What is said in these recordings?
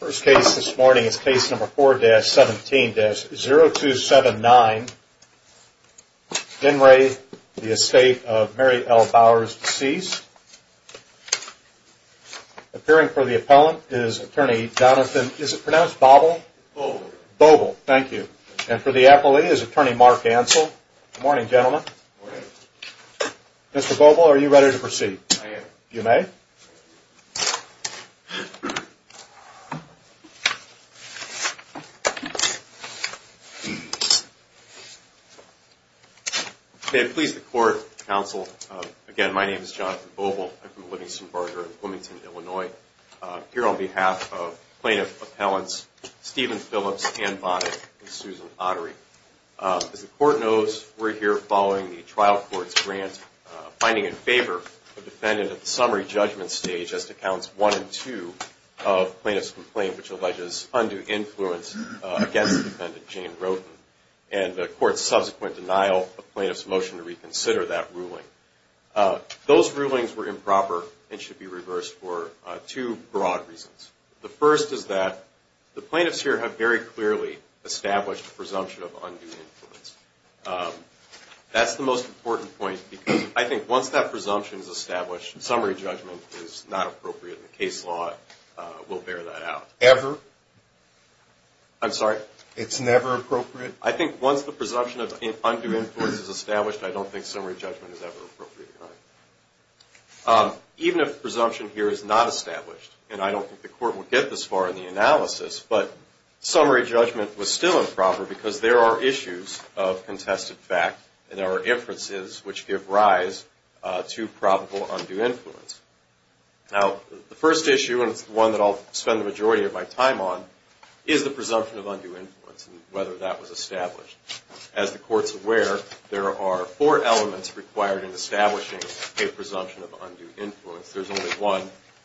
First case this morning is case number 4-17-0279. Genray, the Estate of Mary L. Bowers deceased. Appearing for the appellant is attorney Jonathan, is it pronounced Bobble? Bobble. Bobble, thank you. And for the appellee is attorney Mark Ansel. Good morning, gentlemen. Good morning. Mr. Bobble, are you ready to proceed? I am. You may. May it please the court, counsel. Again, my name is Jonathan Bobble. I'm from Livingston Barger in Bloomington, Illinois. Here on behalf of plaintiff appellants Stephen Phillips, Ann Bonnet and Susan Ottery. As the court knows, we're here following the trial court's grant, finding in favor of the defendant at the summary judgment stage as to counts 1 and 2 of plaintiff's complaint which alleges undue influence against the defendant, Jane Roden. And the court's subsequent denial of plaintiff's motion to reconsider that ruling. Those rulings were improper and should be reversed for two broad reasons. The first is that the plaintiffs here have very clearly established a presumption of undue influence. That's the most important point because I think once that presumption is established, summary judgment is not appropriate in the case law. We'll bear that out. Ever? I'm sorry? It's never appropriate? I think once the presumption of undue influence is established, I don't think summary judgment is ever appropriate. Even if the presumption here is not established, and I don't think the court will get this far in the analysis, but summary judgment was still improper because there are issues of contested fact and there are inferences which give rise to probable undue influence. Now, the first issue, and it's the one that I'll spend the majority of my time on, is the presumption of undue influence and whether that was established. As the court's aware, there are four elements required in establishing a presumption of undue influence. There's only one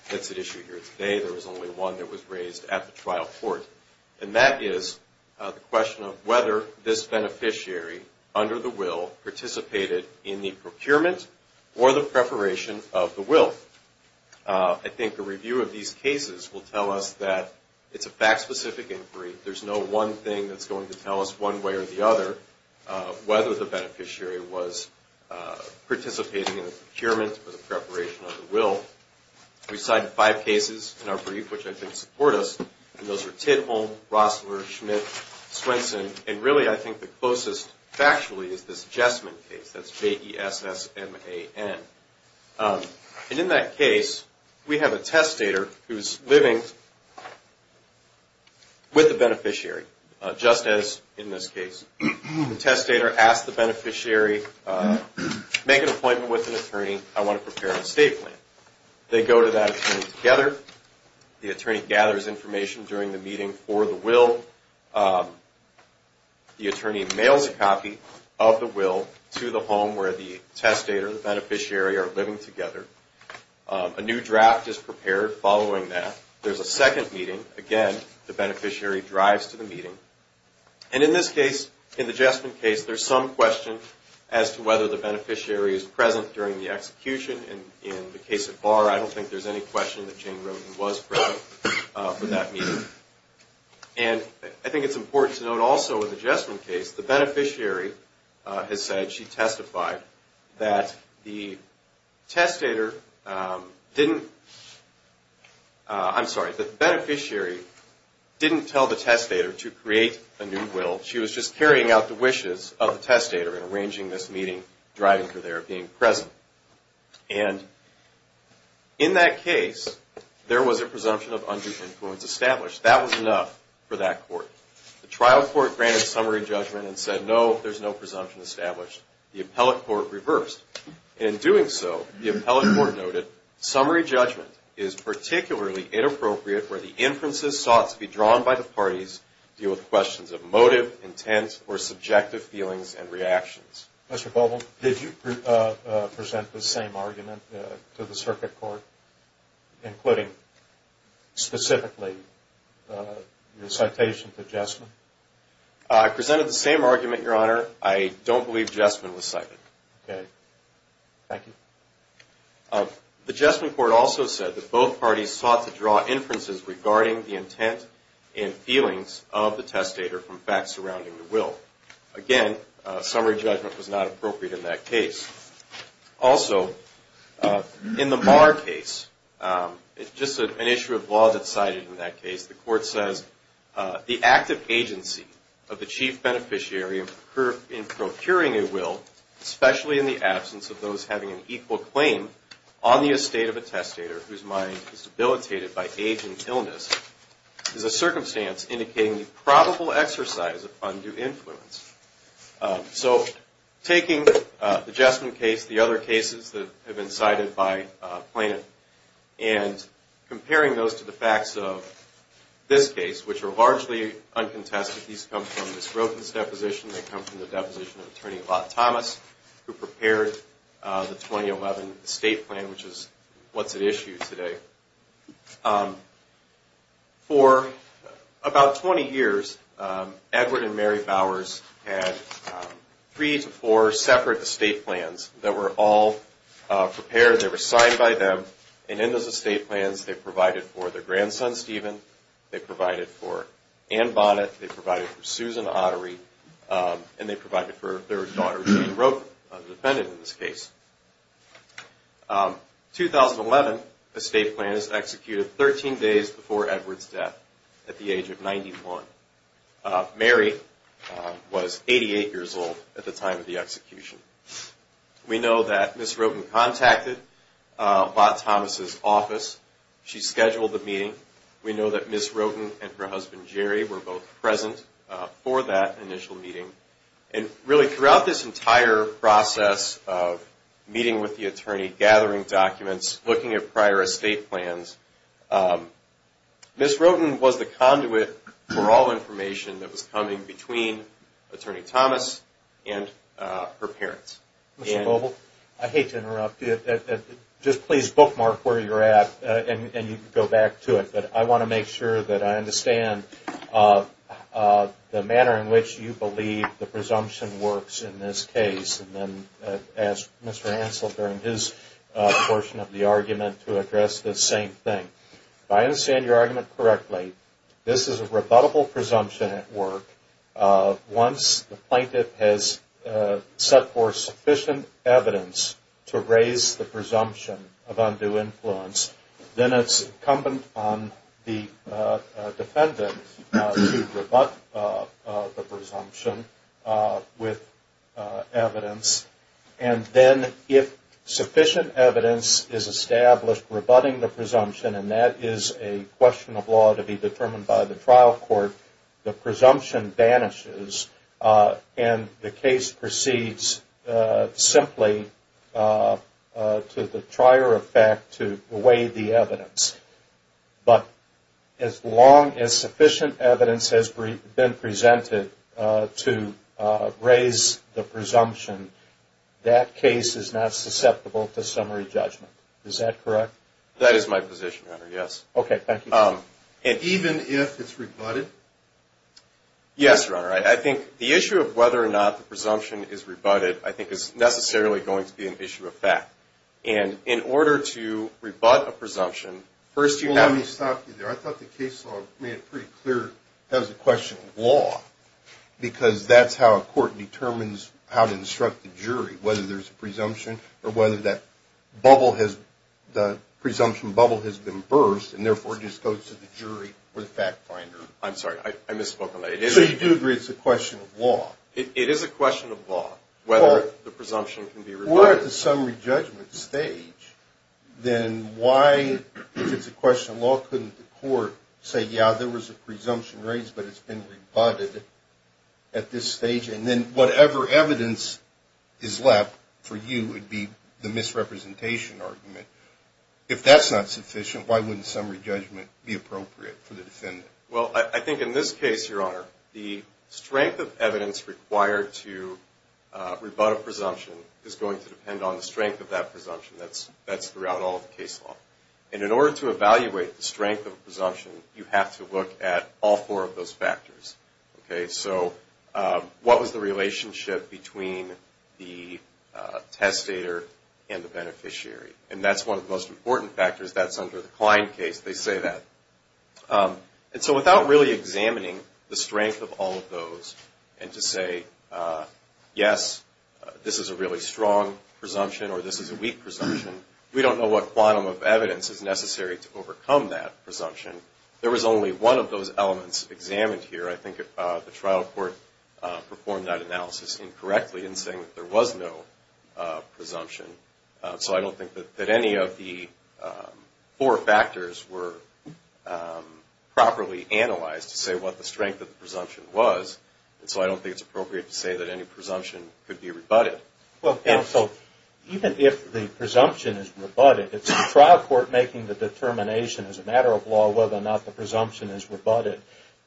that's at issue here today. There was only one that was raised at the trial court, and that is the question of whether this beneficiary, under the will, participated in the procurement or the preparation of the will. I think a review of these cases will tell us that it's a fact-specific inquiry. There's no one thing that's going to tell us one way or the other whether the beneficiary was participating in the procurement or the preparation of the will. We cited five cases in our brief which I think support us, and those were Tidholm, Rossler, Schmidt, Swenson, and really I think the closest factually is this Jessman case, that's J-E-S-S-M-A-N. And in that case, we have a testator who's living with the beneficiary, just as in this case. The testator asks the beneficiary, make an appointment with an attorney. I want to prepare a state plan. They go to that attorney together. The attorney gathers information during the meeting for the will. The attorney mails a copy of the will to the home where the testator and the beneficiary are living together. A new draft is prepared following that. There's a second meeting. Again, the beneficiary drives to the meeting. And in this case, in the Jessman case, there's some question as to whether the beneficiary is present during the execution. In the case of Barr, I don't think there's any question that Jane Remden was present for that meeting. And I think it's important to note also in the Jessman case, the beneficiary has said, that the testator didn't, I'm sorry, the beneficiary didn't tell the testator to create a new will. She was just carrying out the wishes of the testator in arranging this meeting, driving her there, being present. And in that case, there was a presumption of undue influence established. That was enough for that court. The trial court granted summary judgment and said, no, there's no presumption established. The appellate court reversed. In doing so, the appellate court noted, summary judgment is particularly inappropriate where the inferences sought to be drawn by the parties deal with questions of motive, intent, or subjective feelings and reactions. Mr. Bowman, did you present the same argument to the circuit court, including specifically your citation to Jessman? I presented the same argument, Your Honor. I don't believe Jessman was cited. Okay. Thank you. The Jessman court also said that both parties sought to draw inferences regarding the intent and feelings of the testator from facts surrounding the will. Again, summary judgment was not appropriate in that case. Also, in the Maher case, it's just an issue of law that's cited in that case. The court says, the active agency of the chief beneficiary in procuring a will, especially in the absence of those having an equal claim on the estate of a testator whose mind is debilitated by age and illness, is a circumstance indicating the probable exercise of undue influence. So taking the Jessman case, the other cases that have been cited by plaintiff, and comparing those to the facts of this case, which are largely uncontested. These come from Ms. Grothen's deposition. They come from the deposition of Attorney Lot Thomas, who prepared the 2011 estate plan, which is what's at issue today. For about 20 years, Edward and Mary Bowers had three to four separate estate plans that were all prepared. They were signed by them. And in those estate plans, they provided for their grandson, Stephen. They provided for Ann Bonnet. They provided for Susan Ottery. And they provided for their daughter, Jean Rope, a defendant in this case. In 2011, the estate plan is executed 13 days before Edward's death at the age of 91. Mary was 88 years old at the time of the execution. We know that Ms. Grothen contacted Lot Thomas' office. She scheduled the meeting. We know that Ms. Grothen and her husband, Jerry, were both present for that initial meeting. Really, throughout this entire process of meeting with the attorney, gathering documents, looking at prior estate plans, Ms. Grothen was the conduit for all information that was coming between Attorney Thomas and her parents. Mr. Bobl, I hate to interrupt you. Just please bookmark where you're at, and you can go back to it. But I want to make sure that I understand the manner in which you believe the presumption works in this case. And then ask Mr. Ansel during his portion of the argument to address this same thing. If I understand your argument correctly, this is a rebuttable presumption at work. Once the plaintiff has set forth sufficient evidence to raise the presumption of undue influence, then it's incumbent on the defendant to rebut the presumption with evidence. And then if sufficient evidence is established rebutting the presumption, and that is a question of law to be determined by the trial court, the presumption vanishes, and the case proceeds simply to the trier effect to weigh the evidence. But as long as sufficient evidence has been presented to raise the presumption, that case is not susceptible to summary judgment. Is that correct? That is my position, Your Honor, yes. Okay, thank you. Even if it's rebutted? Yes, Your Honor. I think the issue of whether or not the presumption is rebutted I think is necessarily going to be an issue of fact. And in order to rebut a presumption, first you have to Well, let me stop you there. I thought the case law made it pretty clear that was a question of law. Because that's how a court determines how to instruct the jury, whether there's a presumption or whether the presumption bubble has been burst, and therefore just goes to the jury or the fact finder. I'm sorry. I misspoke on that. So you do agree it's a question of law? It is a question of law, whether the presumption can be rebutted. Well, at the summary judgment stage, then why, if it's a question of law, couldn't the court say, yeah, there was a presumption raised, but it's been rebutted at this stage? And then whatever evidence is left for you would be the misrepresentation argument. If that's not sufficient, why wouldn't summary judgment be appropriate for the defendant? Well, I think in this case, Your Honor, the strength of evidence required to rebut a presumption is going to depend on the strength of that presumption. That's throughout all of the case law. And in order to evaluate the strength of a presumption, you have to look at all four of those factors. So what was the relationship between the testator and the beneficiary? And that's one of the most important factors. That's under the Klein case. They say that. And so without really examining the strength of all of those and to say, yes, this is a really strong presumption or this is a weak presumption, we don't know what quantum of evidence is necessary to overcome that presumption. There was only one of those elements examined here. I think the trial court performed that analysis incorrectly in saying that there was no presumption. So I don't think that any of the four factors were properly analyzed to say what the strength of the presumption was. And so I don't think it's appropriate to say that any presumption could be rebutted. So even if the presumption is rebutted, it's the trial court making the determination as a matter of law whether or not the presumption is rebutted.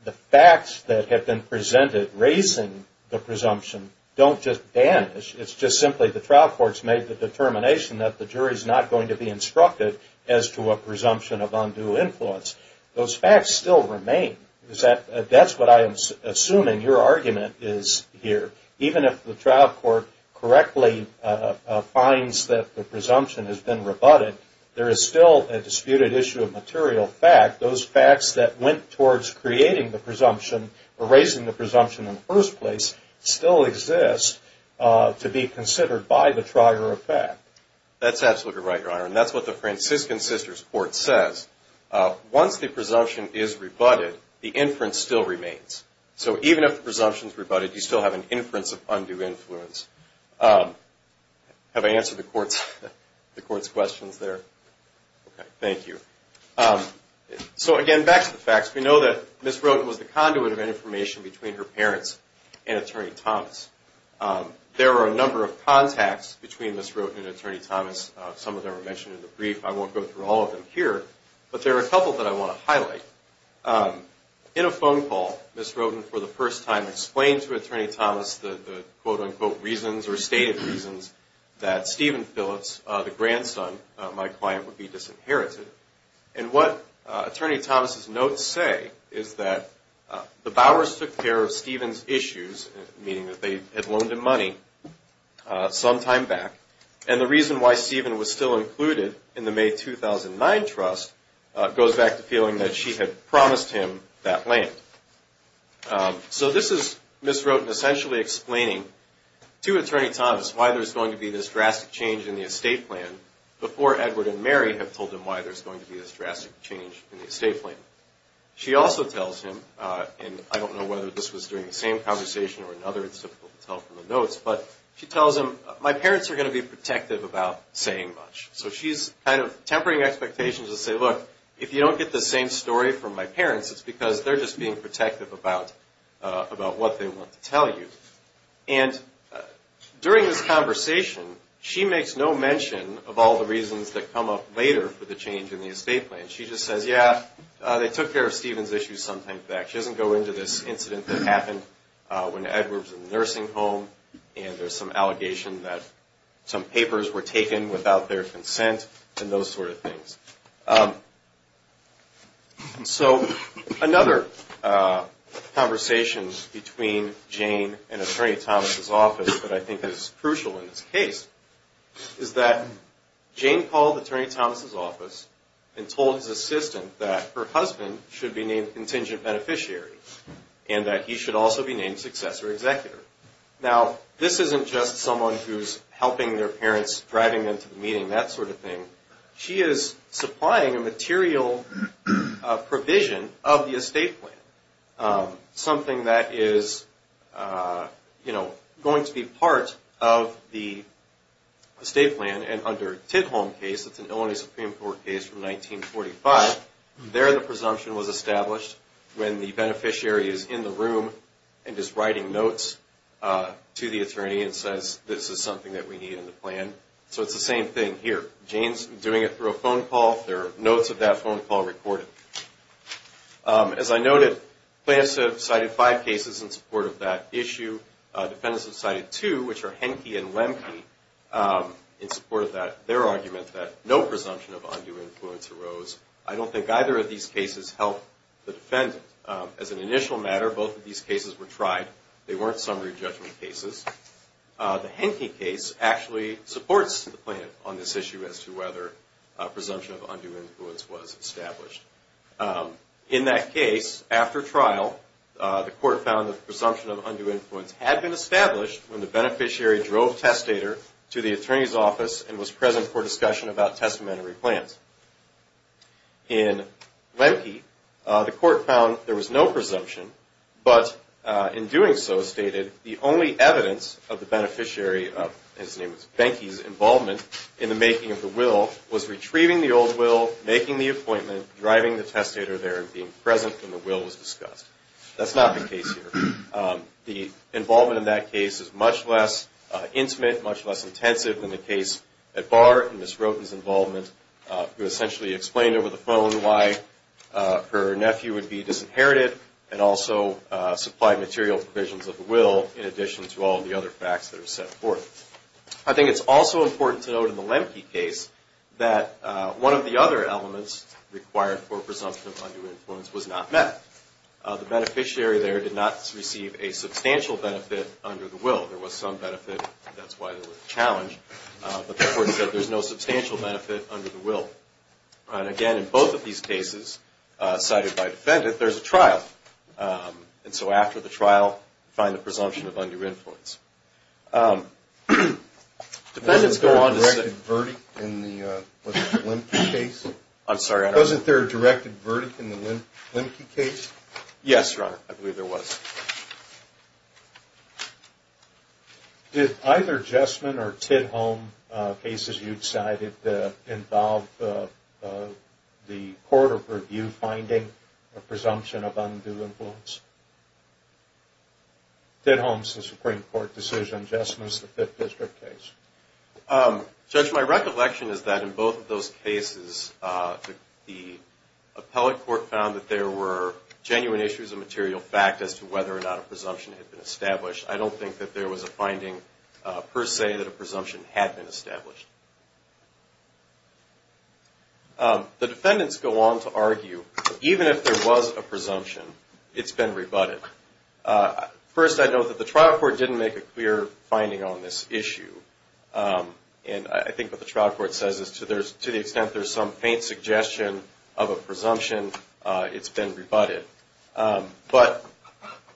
The facts that have been presented raising the presumption don't just vanish. It's just simply the trial court's made the determination that the jury's not going to be instructed as to a presumption of undue influence. Those facts still remain. That's what I am assuming your argument is here. Even if the trial court correctly finds that the presumption has been rebutted, there is still a disputed issue of material fact. Those facts that went towards creating the presumption or raising the presumption in the first place still exist to be considered by the trier of fact. That's absolutely right, your honor, and that's what the Franciscan Sisters Court says. Once the presumption is rebutted, the inference still remains. So even if the presumption is rebutted, you still have an inference of undue influence. Have I answered the court's questions there? Okay, thank you. So again, back to the facts. We know that Ms. Roten was the conduit of information between her parents and Attorney Thomas. There are a number of contacts between Ms. Roten and Attorney Thomas. Some of them are mentioned in the brief. I won't go through all of them here, but there are a couple that I want to highlight. In a phone call, Ms. Roten for the first time explained to Attorney Thomas the quote-unquote reasons or stated reasons that Stephen Phillips, the grandson of my client, would be disinherited. And what Attorney Thomas' notes say is that the Bowers took care of Stephen's issues, meaning that they had loaned him money, some time back. And the reason why Stephen was still included in the May 2009 trust goes back to feeling that she had promised him that land. So this is Ms. Roten essentially explaining to Attorney Thomas why there's going to be this drastic change in the estate plan, before Edward and Mary have told him why there's going to be this drastic change in the estate plan. She also tells him, and I don't know whether this was during the same conversation or another, it's difficult to tell from the notes, but she tells him, my parents are going to be protective about saying much. So she's kind of tempering expectations to say, look, if you don't get the same story from my parents, it's because they're just being protective about what they want to tell you. And during this conversation, she makes no mention of all the reasons that come up later for the change in the estate plan. She just says, yeah, they took care of Stephen's issues some time back. She doesn't go into this incident that happened when Edward was in the nursing home, and there's some allegation that some papers were taken without their consent, and those sort of things. So another conversation between Jane and Attorney Thomas' office that I think is crucial in this case, is that Jane called Attorney Thomas' office and told his assistant that her husband should be named contingent beneficiary and that he should also be named successor executor. Now, this isn't just someone who's helping their parents, driving them to the meeting, that sort of thing. She is supplying a material provision of the estate plan, something that is going to be part of the estate plan. And under Tidholm's case, it's an Illinois Supreme Court case from 1945, there the presumption was established when the beneficiary is in the room and is writing notes to the attorney and says this is something that we need in the plan. So it's the same thing here. Jane's doing it through a phone call, there are notes of that phone call recorded. As I noted, plaintiffs have cited five cases in support of that issue. Defendants have cited two, which are Henke and Lemke, in support of their argument that no presumption of undue influence arose. I don't think either of these cases helped the defendant. As an initial matter, both of these cases were tried. They weren't summary judgment cases. The Henke case actually supports the plaintiff on this issue as to whether a presumption of undue influence was established. In that case, after trial, the court found that the presumption of undue influence had been established when the beneficiary drove testator to the attorney's office and was present for discussion about testamentary plans. In Lemke, the court found there was no presumption, but in doing so, stated, the only evidence of the beneficiary, his name was Benke's involvement in the making of the will, was retrieving the old will, making the appointment, driving the testator there and being present when the will was discussed. That's not the case here. The involvement in that case is much less intimate, much less intensive than the case at Barr, in Ms. Roten's involvement, who essentially explained over the phone why her nephew would be disinherited and also supplied material provisions of the will in addition to all the other facts that are set forth. I think it's also important to note in the Lemke case that one of the other elements required for presumption of undue influence was not met. The beneficiary there did not receive a substantial benefit under the will. There was some benefit, that's why it was a challenge, but the court said there's no substantial benefit under the will. And again, in both of these cases cited by defendant, there's a trial. And so after the trial, find the presumption of undue influence. Defendants go on to say... Wasn't there a directed verdict in the Lemke case? Wasn't there a directed verdict in the Lemke case? Yes, Your Honor. I believe there was. Did either Jessamine or Tidholm cases you cited involve the court of review finding a presumption of undue influence? Tidholm's the Supreme Court decision, Jessamine's the Fifth District case. Judge, my recollection is that in both of those cases, the appellate court found that there were genuine issues of material fact as to whether or not a presumption had been established. I don't think that there was a finding per se that a presumption had been established. The defendants go on to argue, even if there was a presumption, it's been rebutted. First, I note that the trial court didn't make a clear finding on this issue. And I think what the trial court says is to the extent there's some faint suggestion of a presumption, it's been rebutted. But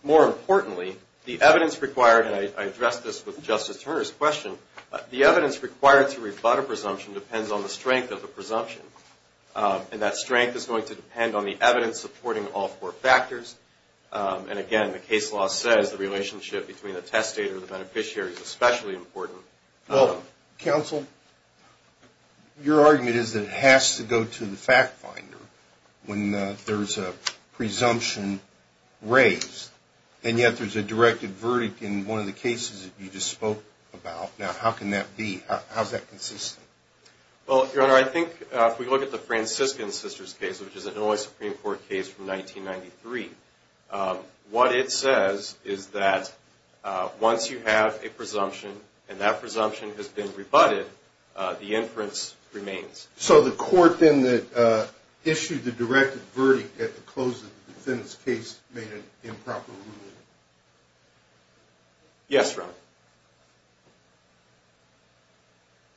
more importantly, the evidence required, and I addressed this with Justice Turner's question, the evidence required to rebut a presumption depends on the strength of the presumption. And that strength is going to depend on the evidence supporting all four factors. And again, the case law says the relationship between the testator and the beneficiary is especially important. Counsel, your argument is that it has to go to the fact finder when there's a presumption raised, and yet there's a directed verdict in one of the cases that you just spoke about. Now, how can that be? How's that consistent? Well, Your Honor, I think if we look at the Franciscan Sisters case, which is an Illinois Supreme Court case from 1993, what it says is that once you have a presumption and that presumption has been rebutted, the inference remains. So the court then that issued the directed verdict at the close of the defendant's case made an improper ruling? Yes, Your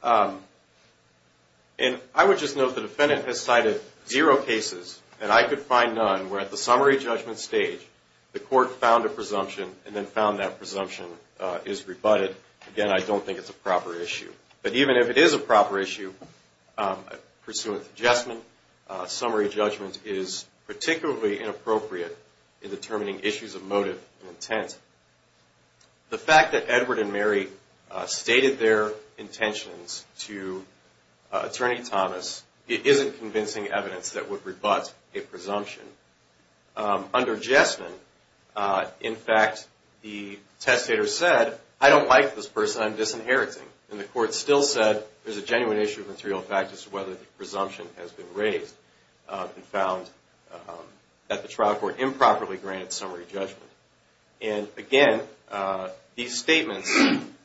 Honor. And I would just note the defendant has cited zero cases, and I could find none, where at the summary judgment stage the court found a presumption and then found that presumption is rebutted. Again, I don't think it's a proper issue. But even if it is a proper issue, pursuant to adjustment, summary judgment is particularly inappropriate in determining issues of motive and intent. The fact that Edward and Mary stated their intentions to Attorney Thomas isn't convincing evidence that would rebut a presumption. Under adjustment, in fact, the testator said, I don't like this person, I'm disinheriting. And the court still said there's a genuine issue of material fact as to whether the presumption has been raised and found that the trial court improperly granted summary judgment. And again, these statements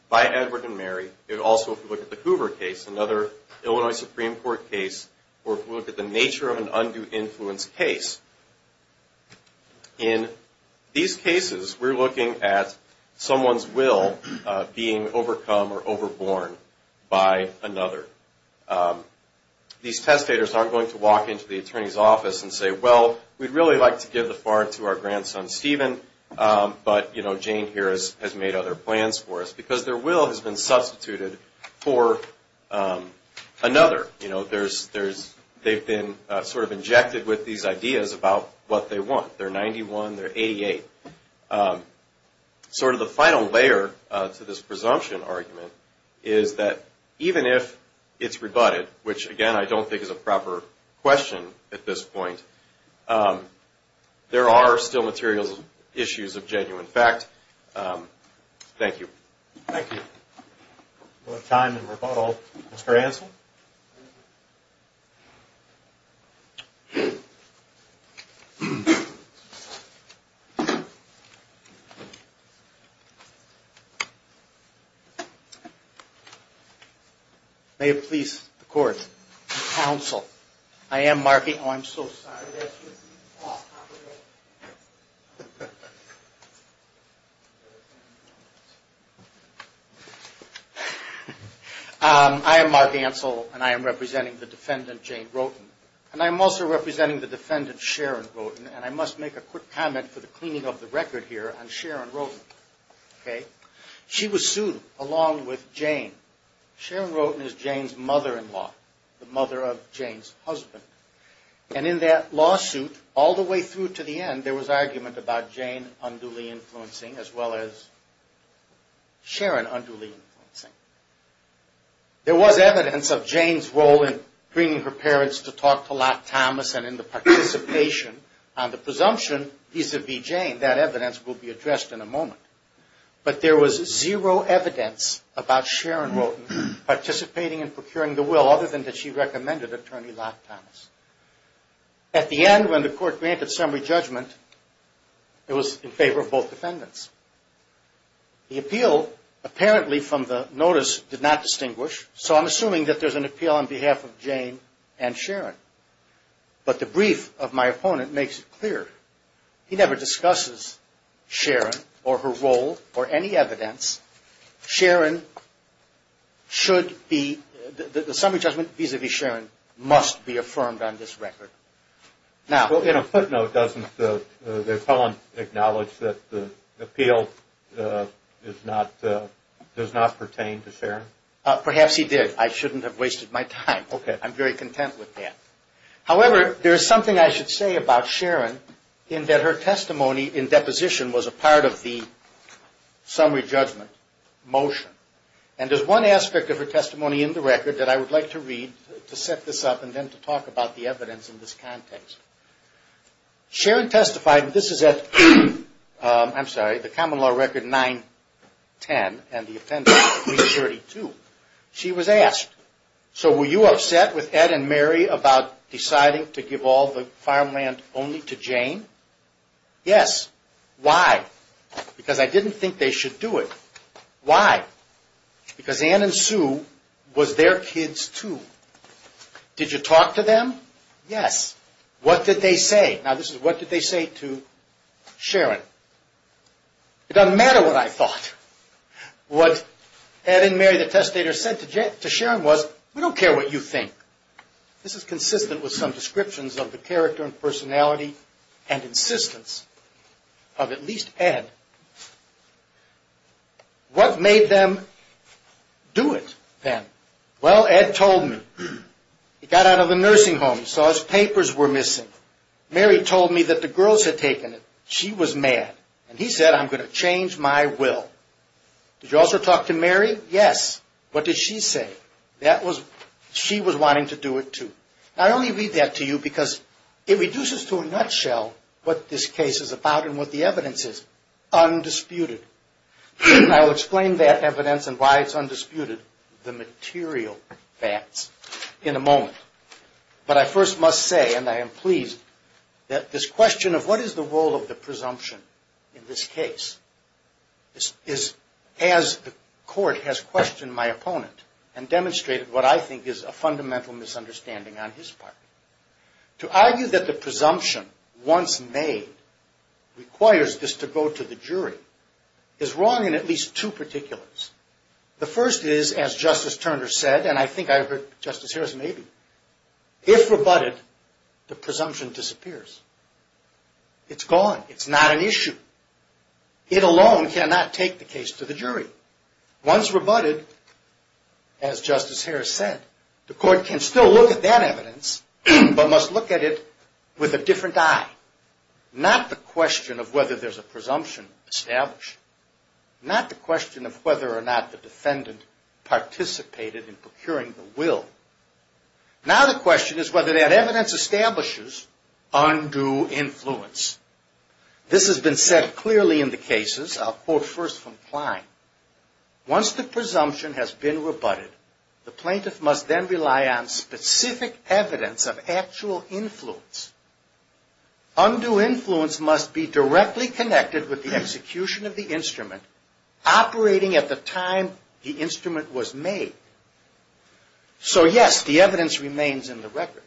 by Edward and Mary, it also, if you look at the Hoover case, another Illinois Supreme Court case, or if you look at the nature of an undue influence case, in these cases we're looking at someone's will being overcome or overborne by another. These testators aren't going to walk into the attorney's office and say, well, we'd really like to give the farm to our grandson Stephen, but Jane here has made other plans for us. Because their will has been substituted for another. They've been sort of injected with these ideas about what they want. They're 91, they're 88. Sort of the final layer to this presumption argument is that even if it's rebutted, which, again, I don't think is a proper question at this point, there are still material issues of genuine fact. Thank you. Thank you. We'll have time in rebuttal. Mr. Hanson? May it please the Court, counsel, I am Mark Ansel. I'm so sorry. I am Mark Ansel, and I am representing the defendant, Jane Roten. And I'm also representing the defendant, Sharon Roten, and I must make a quick comment for the cleaning of the record here on Sharon Roten. She was sued along with Jane. Sharon Roten is Jane's mother-in-law, the mother of Jane's husband. And in that lawsuit, all the way through to the end, there was argument about Jane unduly influencing, as well as Sharon unduly influencing. There was evidence of Jane's role in bringing her parents to talk to Locke Thomas and in the participation on the presumption vis-a-vis Jane. That evidence will be addressed in a moment. But there was zero evidence about Sharon Roten participating in procuring the will, other than that she recommended Attorney Locke Thomas. At the end, when the Court granted summary judgment, it was in favor of both defendants. The appeal, apparently from the notice, did not distinguish, so I'm assuming that there's an appeal on behalf of Jane and Sharon. But the brief of my opponent makes it clear. He never discusses Sharon or her role or any evidence. Sharon should be, the summary judgment vis-a-vis Sharon, must be affirmed on this record. In a footnote, doesn't the opponent acknowledge that the appeal does not pertain to Sharon? Perhaps he did. I shouldn't have wasted my time. I'm very content with that. However, there is something I should say about Sharon, in that her testimony in deposition was a part of the summary judgment motion. And there's one aspect of her testimony in the record that I would like to read to set this up and then to talk about the evidence in this context. Sharon testified, and this is at, I'm sorry, the common law record 910 and the appendix 332. She was asked, So were you upset with Ed and Mary about deciding to give all the farmland only to Jane? Yes. Why? Because I didn't think they should do it. Why? Because Ann and Sue was their kids too. Did you talk to them? Yes. What did they say? Now, this is what did they say to Sharon. It doesn't matter what I thought. What Ed and Mary the testator said to Sharon was, We don't care what you think. This is consistent with some descriptions of the character and personality and insistence of at least Ed. What made them do it then? Well, Ed told me. He got out of the nursing home. He saw his papers were missing. Mary told me that the girls had taken it. She was mad. And he said, I'm going to change my will. Did you also talk to Mary? Yes. What did she say? She was wanting to do it too. I only read that to you because it reduces to a nutshell what this case is about and what the evidence is. Undisputed. I will explain that evidence and why it's undisputed, the material facts, in a moment. But I first must say, and I am pleased, that this question of what is the role of the presumption in this case is, as the court has questioned my opponent and demonstrated what I think is a fundamental misunderstanding on his part. To argue that the presumption once made requires this to go to the jury is wrong in at least two particulars. The first is, as Justice Turner said, and I think I heard Justice Harris maybe, if rebutted, the presumption disappears. It's gone. It's not an issue. It alone cannot take the case to the jury. Once rebutted, as Justice Harris said, the court can still look at that evidence but must look at it with a different eye. Not the question of whether there's a presumption established. Not the question of whether or not the defendant participated in procuring the will. Now the question is whether that evidence establishes undue influence. This has been said clearly in the cases. I'll quote first from Klein. Once the presumption has been rebutted, the plaintiff must then rely on specific evidence of actual influence. Undue influence must be directly connected with the execution of the instrument operating at the time the instrument was made. So yes, the evidence remains in the record,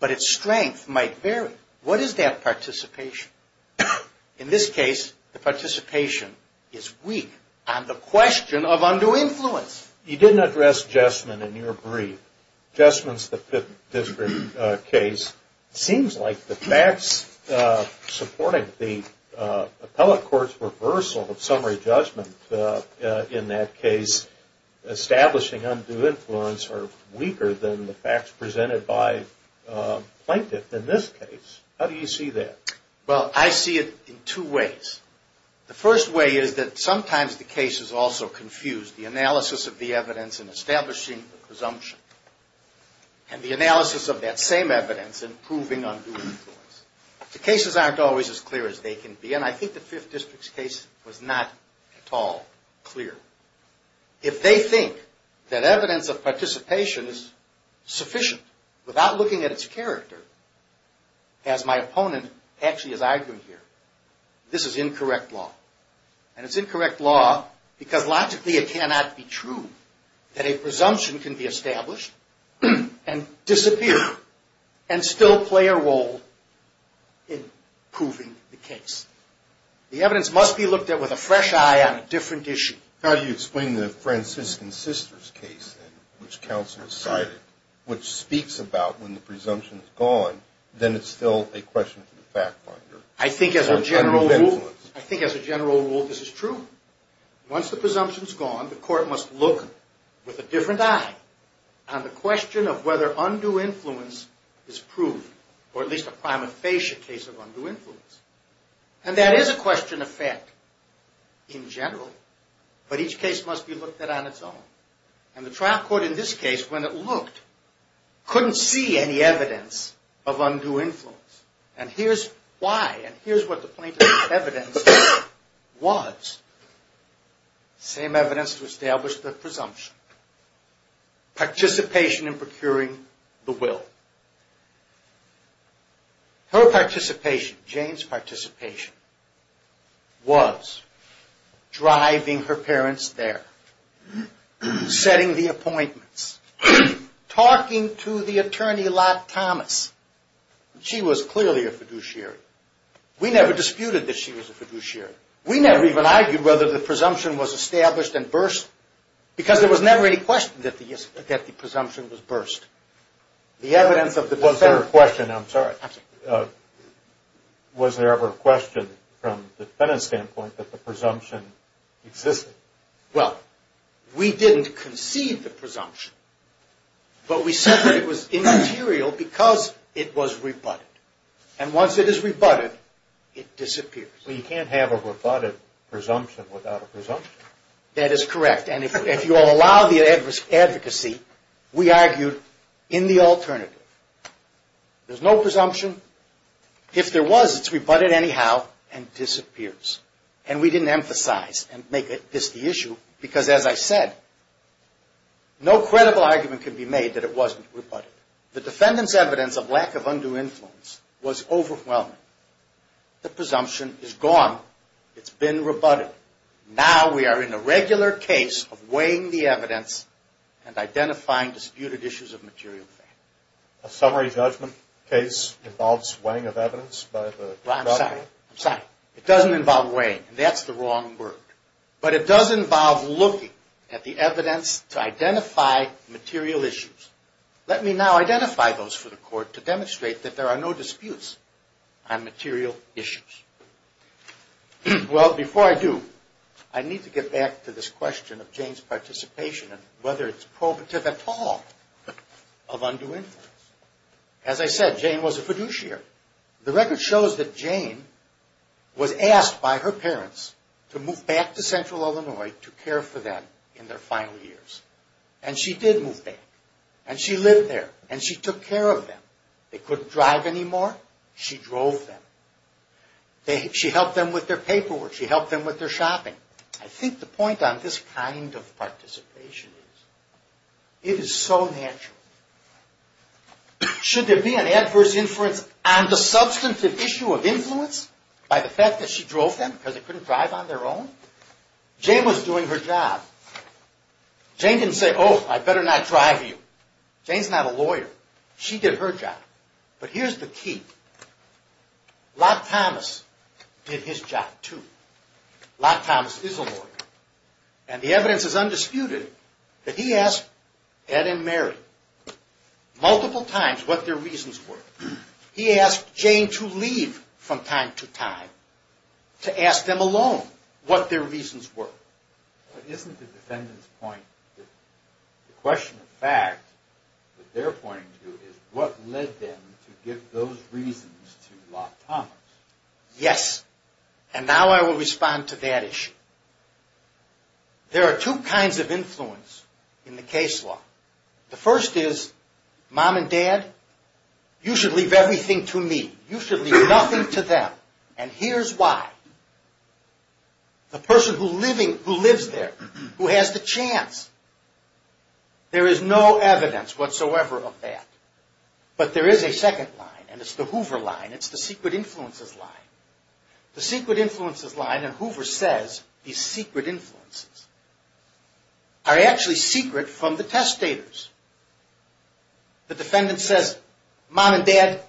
but its strength might vary. What is that participation? In this case, the participation is weak on the question of undue influence. You didn't address Jessman in your brief. Jessman's the Fifth District case. It seems like the facts supporting the appellate court's reversal of summary judgment in that case, establishing undue influence, are weaker than the facts presented by the plaintiff in this case. How do you see that? Well, I see it in two ways. The first way is that sometimes the case is also confused. The analysis of the evidence in establishing the presumption and the analysis of that same evidence in proving undue influence. The cases aren't always as clear as they can be, and I think the Fifth District's case was not at all clear. If they think that evidence of participation is sufficient without looking at its character, as my opponent actually is arguing here, this is incorrect law. And it's incorrect law because logically it cannot be true that a presumption can be established and disappear and still play a role in proving the case. The evidence must be looked at with a fresh eye on a different issue. How do you explain the Franciscan Sisters case, which counsel decided, which speaks about when the presumption is gone, then it's still a question for the fact finder? I think as a general rule, this is true. Once the presumption's gone, the court must look with a different eye on the question of whether undue influence is proved, or at least a prima facie case of undue influence. And that is a question of fact in general, but each case must be looked at on its own. And the trial court in this case, when it looked, couldn't see any evidence of undue influence. And here's why, and here's what the plaintiff's evidence was. Same evidence to establish the presumption. Participation in procuring the will. Her participation, Jane's participation, was driving her parents there. Setting the appointments. Talking to the attorney, Lot Thomas. She was clearly a fiduciary. We never disputed that she was a fiduciary. We never even argued whether the presumption was established and burst, because there was never any question that the presumption was burst. Was there ever a question from the defendant's standpoint that the presumption existed? Well, we didn't concede the presumption, but we said that it was immaterial because it was rebutted. And once it is rebutted, it disappears. Well, you can't have a rebutted presumption without a presumption. That is correct. And if you allow the advocacy, we argued in the alternative. There's no presumption. If there was, it's rebutted anyhow and disappears. And we didn't emphasize and make this the issue because, as I said, no credible argument can be made that it wasn't rebutted. The defendant's evidence of lack of undue influence was overwhelming. The presumption is gone. It's been rebutted. Now we are in a regular case of weighing the evidence and identifying disputed issues of material value. A summary judgment case involves weighing of evidence by the judge? Well, I'm sorry. I'm sorry. It doesn't involve weighing, and that's the wrong word. But it does involve looking at the evidence to identify material issues. Let me now identify those for the Court to demonstrate that there are no disputes. I'm material issues. Well, before I do, I need to get back to this question of Jane's participation and whether it's probative at all of undue influence. As I said, Jane was a fiduciary. The record shows that Jane was asked by her parents to move back to central Illinois to care for them in their final years. And she did move back, and she lived there, and she took care of them. They couldn't drive anymore. She drove them. She helped them with their paperwork. She helped them with their shopping. I think the point on this kind of participation is it is so natural. Should there be an adverse influence on the substantive issue of influence by the fact that she drove them because they couldn't drive on their own? Jane was doing her job. Jane didn't say, oh, I better not drive you. Jane's not a lawyer. She did her job. But here's the key. Locke Thomas did his job too. Locke Thomas is a lawyer. And the evidence is undisputed that he asked Ed and Mary multiple times what their reasons were. He asked Jane to leave from time to time to ask them alone what their reasons were. But isn't the defendant's point that the question of fact that they're pointing to is what led them to give those reasons to Locke Thomas? Yes, and now I will respond to that issue. There are two kinds of influence in the case law. The first is, Mom and Dad, you should leave everything to me. You should leave nothing to them. And here's why. The person who lives there, who has the chance, there is no evidence whatsoever of that. But there is a second line, and it's the Hoover line. It's the secret influences line. The secret influences line, and Hoover says these secret influences, are actually secret from the testators. The defendant says, Mom and Dad,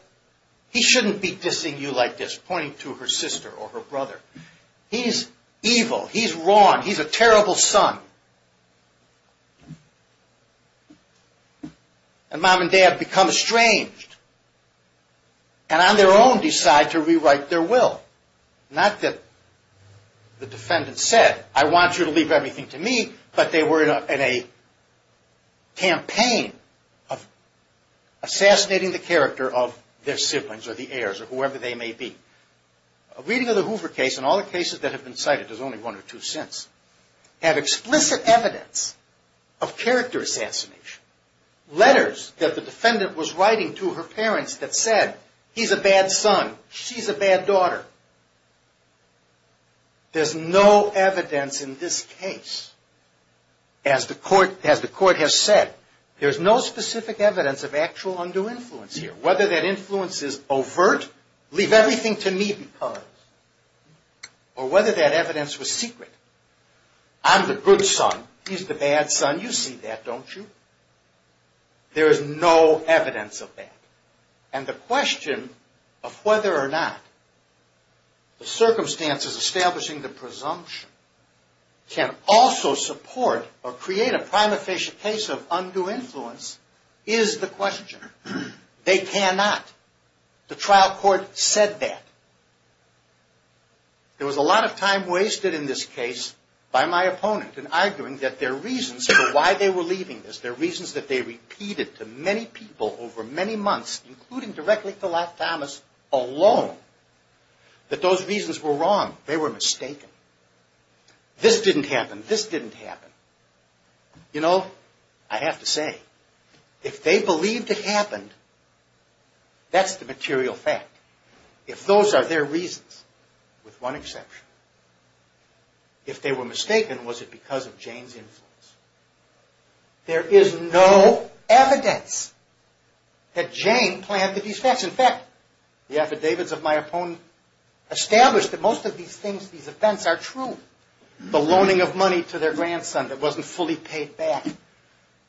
he shouldn't be dissing you like this, pointing to her sister or her brother. He's evil. He's wrong. He's a terrible son. And Mom and Dad become estranged and on their own decide to rewrite their will. Not that the defendant said, I want you to leave everything to me, but they were in a campaign of assassinating the character of their siblings or the heirs or whoever they may be. A reading of the Hoover case and all the cases that have been cited, there's only one or two since, have explicit evidence of character assassination. Letters that the defendant was writing to her parents that said, he's a bad son, she's a bad daughter. There's no evidence in this case, as the court has said, there's no specific evidence of actual undue influence here. Whether that influence is overt, leave everything to me because, or whether that evidence was secret, I'm the good son, he's the bad son, you see that, don't you? There is no evidence of that. And the question of whether or not the circumstances establishing the presumption can also support or create a prima facie case of undue influence is the question. They cannot. The trial court said that. There was a lot of time wasted in this case by my opponent in arguing that their reasons for why they were leaving this, their reasons that they repeated to many people over many months, including directly to Lott Thomas alone, that those reasons were wrong. They were mistaken. This didn't happen. This didn't happen. You know, I have to say, if they believed it happened, that's the material fact. If those are their reasons, with one exception, if they were mistaken, was it because of Jane's influence? There is no evidence that Jane planned these facts. In fact, the affidavits of my opponent establish that most of these things, these offense are true. The loaning of money to their grandson that wasn't fully paid back.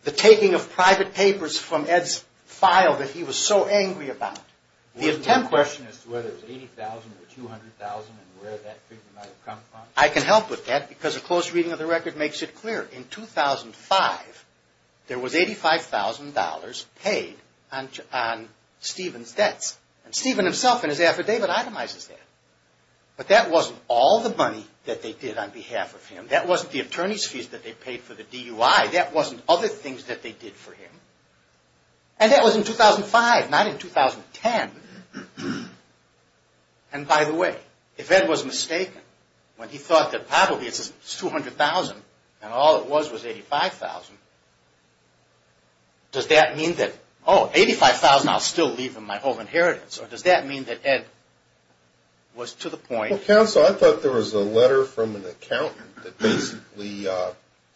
The taking of private papers from Ed's file that he was so angry about. The attempt was to whether it was $80,000 or $200,000 and where that figure might have come from. I can help with that because a close reading of the record makes it clear. In 2005, there was $85,000 paid on Stephen's debts. And Stephen himself in his affidavit itemizes that. But that wasn't all the money that they did on behalf of him. That wasn't the attorney's fees that they paid for the DUI. That wasn't other things that they did for him. And that was in 2005, not in 2010. And by the way, if Ed was mistaken when he thought that probably it's $200,000 and all it was was $85,000, does that mean that, Oh, $85,000, I'll still leave him my whole inheritance. Or does that mean that Ed was to the point? Well, counsel, I thought there was a letter from an accountant that basically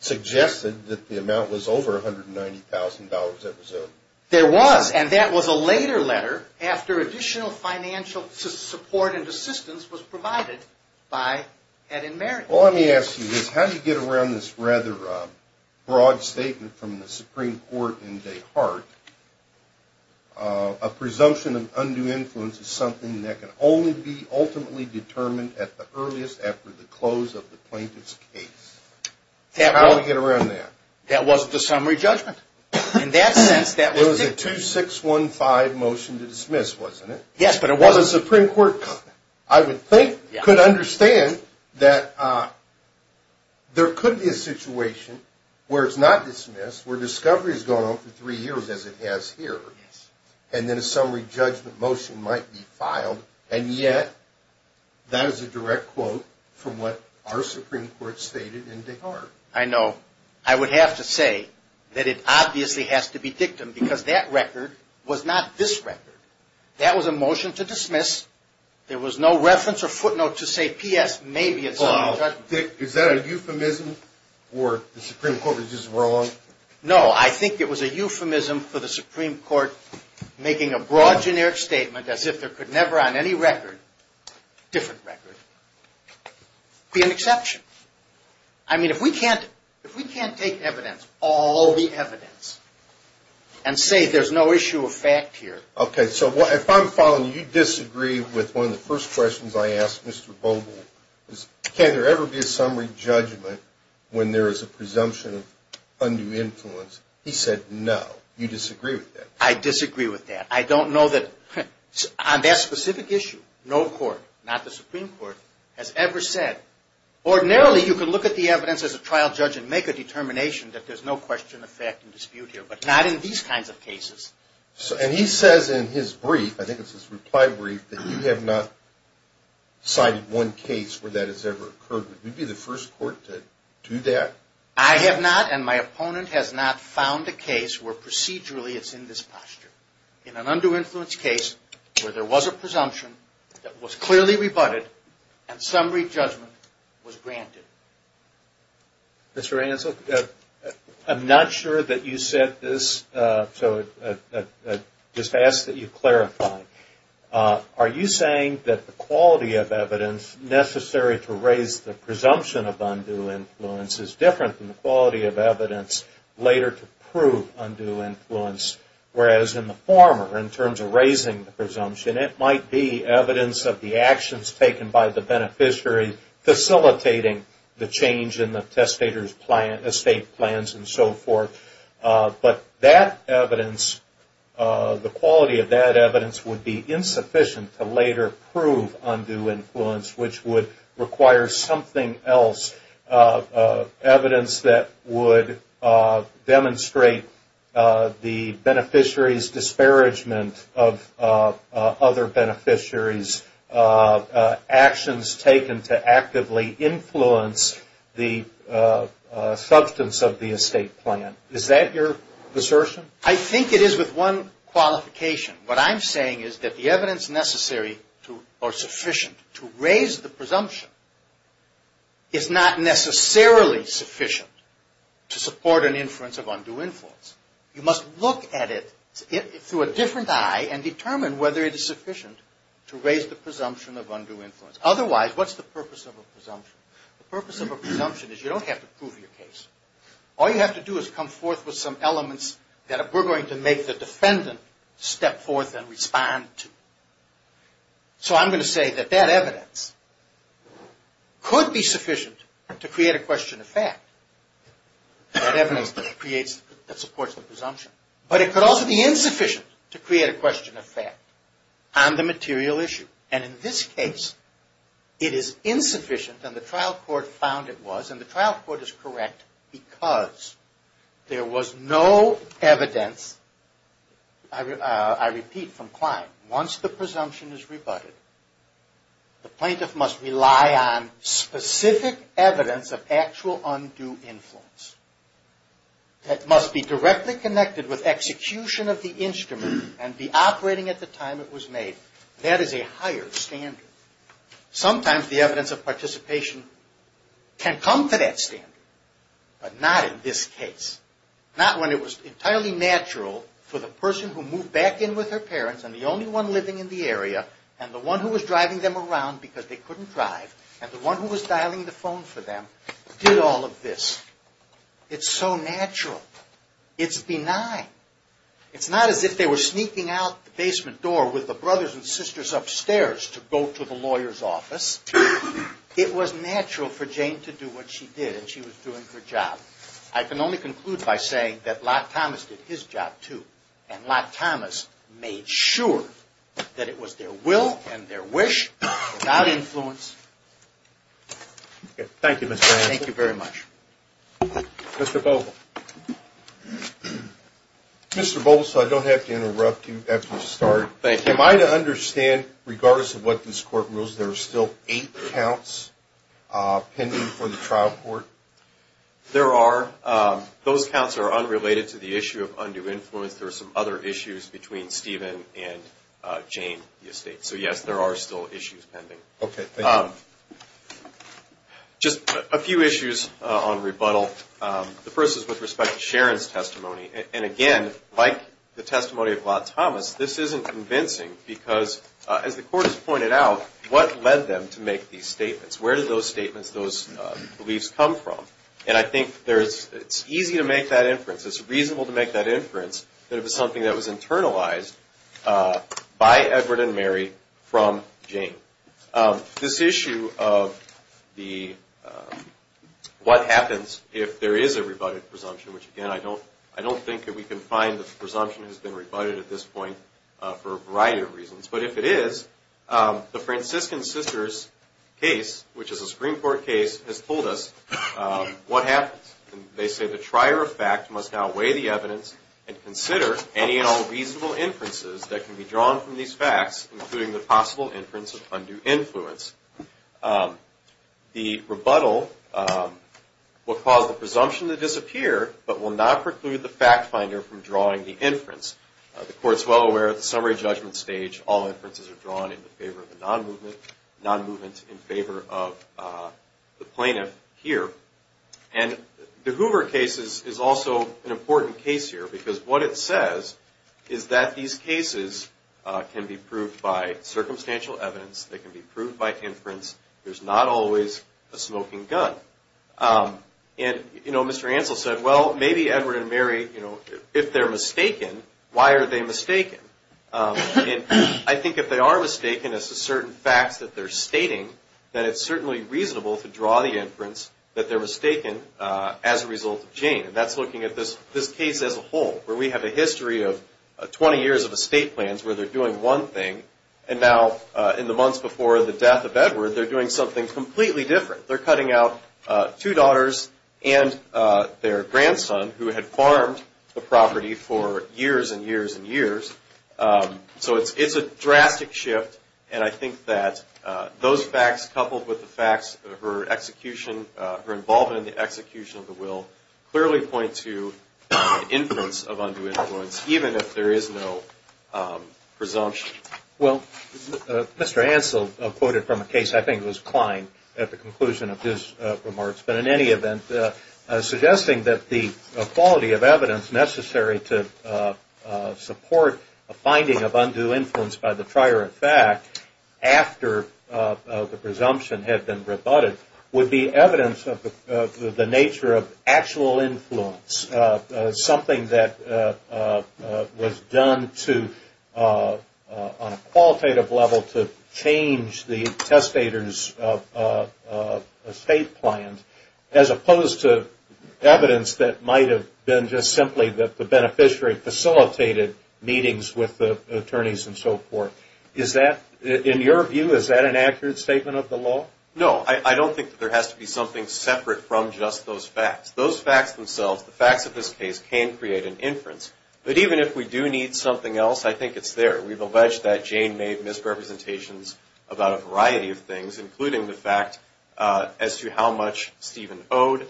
suggested that the amount was over $190,000 that was owed. There was, and that was a later letter after additional financial support and assistance was provided by Ed and Mary. Well, let me ask you this. How did you get around this rather broad statement from the Supreme Court in Des Hartes? A presumption of undue influence is something that can only be ultimately determined at the earliest after the close of the plaintiff's case. How did you get around that? That wasn't a summary judgment. In that sense, that was a 2-6-1-5 motion to dismiss, wasn't it? Yes, but it wasn't. The Supreme Court, I would think, could understand that there could be a situation where it's not dismissed, where discovery has gone on for three years as it has here, and then a summary judgment motion might be filed, and yet that is a direct quote from what our Supreme Court stated in Des Hartes. I know. I would have to say that it obviously has to be dictum because that record was not this record. That was a motion to dismiss. There was no reference or footnote to say, P.S., maybe it's a summary judgment. Dick, is that a euphemism or the Supreme Court was just wrong? No, I think it was a euphemism for the Supreme Court making a broad generic statement as if there could never on any record, different record, be an exception. I mean, if we can't take evidence, all the evidence, and say there's no issue of fact here. Okay, so if I'm following, you disagree with one of the first questions I asked Mr. Bogle. Can there ever be a summary judgment when there is a presumption of undue influence? He said no. You disagree with that? I disagree with that. I don't know that on that specific issue, no court, not the Supreme Court, has ever said. Ordinarily, you can look at the evidence as a trial judge and make a determination that there's no question of fact in dispute here, but not in these kinds of cases. And he says in his brief, I think it's his reply brief, that you have not cited one case where that has ever occurred. Would you be the first court to do that? I have not and my opponent has not found a case where procedurally it's in this posture. In an undue influence case where there was a presumption that was clearly rebutted and summary judgment was granted. Mr. Ansell, I'm not sure that you said this, so I just ask that you clarify. Are you saying that the quality of evidence necessary to raise the presumption of undue influence is different than the quality of evidence later to prove undue influence, whereas in the former, in terms of raising the presumption, then it might be evidence of the actions taken by the beneficiary facilitating the change in the testator's estate plans and so forth. But that evidence, the quality of that evidence would be insufficient to later prove undue influence, which would require something else, evidence that would demonstrate the beneficiary's disparagement of other beneficiaries, actions taken to actively influence the substance of the estate plan. Is that your assertion? I think it is with one qualification. What I'm saying is that the evidence necessary or sufficient to raise the presumption is not necessarily sufficient to support an inference of undue influence. You must look at it through a different eye and determine whether it is sufficient to raise the presumption of undue influence. Otherwise, what's the purpose of a presumption? The purpose of a presumption is you don't have to prove your case. All you have to do is come forth with some elements that we're going to make the defendant step forth and respond to. So I'm going to say that that evidence could be sufficient to create a question of fact, that evidence that supports the presumption. But it could also be insufficient to create a question of fact on the material issue. And in this case, it is insufficient, and the trial court found it was, and the trial court is correct because there was no evidence, I repeat from Klein, once the presumption is rebutted, the plaintiff must rely on specific evidence of actual undue influence that must be directly connected with execution of the instrument and the operating at the time it was made. That is a higher standard. Sometimes the evidence of participation can come to that standard, but not in this case. Not when it was entirely natural for the person who moved back in with her parents and the only one living in the area and the one who was driving them around because they couldn't drive and the one who was dialing the phone for them did all of this. It's so natural. It's benign. It's not as if they were sneaking out the basement door with the brothers and sisters upstairs to go to the lawyer's office. It was natural for Jane to do what she did, and she was doing her job. I can only conclude by saying that Locke Thomas did his job, too, and Locke Thomas made sure that it was their will and their wish without influence. Thank you, Mr. Hancock. Thank you very much. Mr. Boval. Mr. Boval, so I don't have to interrupt you after you've started. Thank you. Am I to understand, regardless of what this court rules, there are still eight counts pending for the trial court? There are. Those counts are unrelated to the issue of undue influence. There are some other issues between Stephen and Jane, the estate. So, yes, there are still issues pending. Okay, thank you. Just a few issues on rebuttal. The first is with respect to Sharon's testimony. And, again, like the testimony of Locke Thomas, this isn't convincing because, as the court has pointed out, what led them to make these statements? Where did those statements, those beliefs come from? And I think it's easy to make that inference, it's reasonable to make that inference, that it was something that was internalized by Edward and Mary from Jane. This issue of what happens if there is a rebutted presumption, which, again, I don't think that we can find that the presumption has been rebutted at this point for a variety of reasons. But if it is, the Franciscan Sisters case, which is a Supreme Court case, has told us what happens. They say the trier of fact must outweigh the evidence and consider any and all reasonable inferences that can be drawn from these facts, including the possible inference of undue influence. The rebuttal will cause the presumption to disappear, but will not preclude the fact finder from drawing the inference. The Court is well aware at the summary judgment stage, all inferences are drawn in favor of the non-movement, non-movement in favor of the plaintiff here. And the Hoover case is also an important case here, because what it says is that these cases can be proved by circumstantial evidence. They can be proved by inference. There's not always a smoking gun. And, you know, Mr. Ansell said, well, maybe Edward and Mary, you know, if they're mistaken, why are they mistaken? And I think if they are mistaken as to certain facts that they're stating, then it's certainly reasonable to draw the inference that they're mistaken as a result of Jane. And that's looking at this case as a whole, where we have a history of 20 years of estate plans, where they're doing one thing, and now in the months before the death of Edward, they're doing something completely different. They're cutting out two daughters and their grandson, who had farmed the property for years and years and years. So it's a drastic shift. And I think that those facts, coupled with the facts of her execution, her involvement in the execution of the will, clearly point to inference of undue influence, even if there is no presumption. Well, Mr. Ansell quoted from a case, I think it was Klein, at the conclusion of his remarks, but in any event, suggesting that the quality of evidence necessary to support a finding of undue influence by the nature of actual influence, something that was done on a qualitative level to change the testator's estate plan, as opposed to evidence that might have been just simply that the beneficiary facilitated meetings with the attorneys and so forth. Is that, in your view, is that an accurate statement of the law? No. I don't think that there has to be something separate from just those facts. Those facts themselves, the facts of this case, can create an inference. But even if we do need something else, I think it's there. We've alleged that Jane made misrepresentations about a variety of things, including the fact as to how much Stephen owed,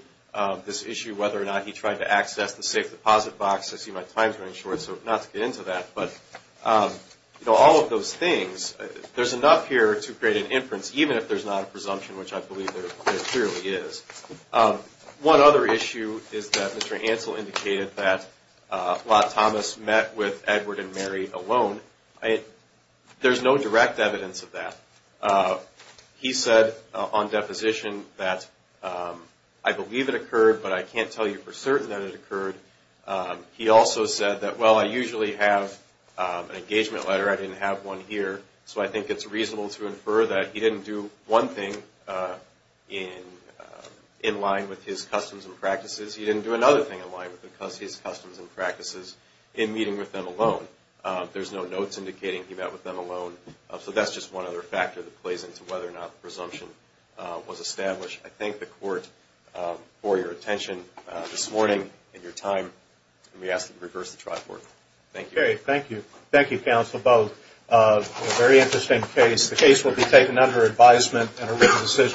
this issue whether or not he tried to access the safe deposit box. I see my time's running short, so not to get into that. But all of those things, there's enough here to create an inference, even if there's not a presumption, which I believe there clearly is. One other issue is that Mr. Ansell indicated that Lot Thomas met with Edward and Mary alone. There's no direct evidence of that. He said on deposition that, I believe it occurred, but I can't tell you for certain that it occurred. He also said that, well, I usually have an engagement letter. I didn't have one here. So I think it's reasonable to infer that he didn't do one thing in line with his customs and practices. He didn't do another thing in line with his customs and practices in meeting with them alone. There's no notes indicating he met with them alone. So that's just one other factor that plays into whether or not the presumption was established. I thank the Court for your attention this morning and your time. Let me ask you to reverse the tripod. Thank you. Okay, thank you. Thank you, counsel, both. A very interesting case. The case will be taken under advisement and a written decision.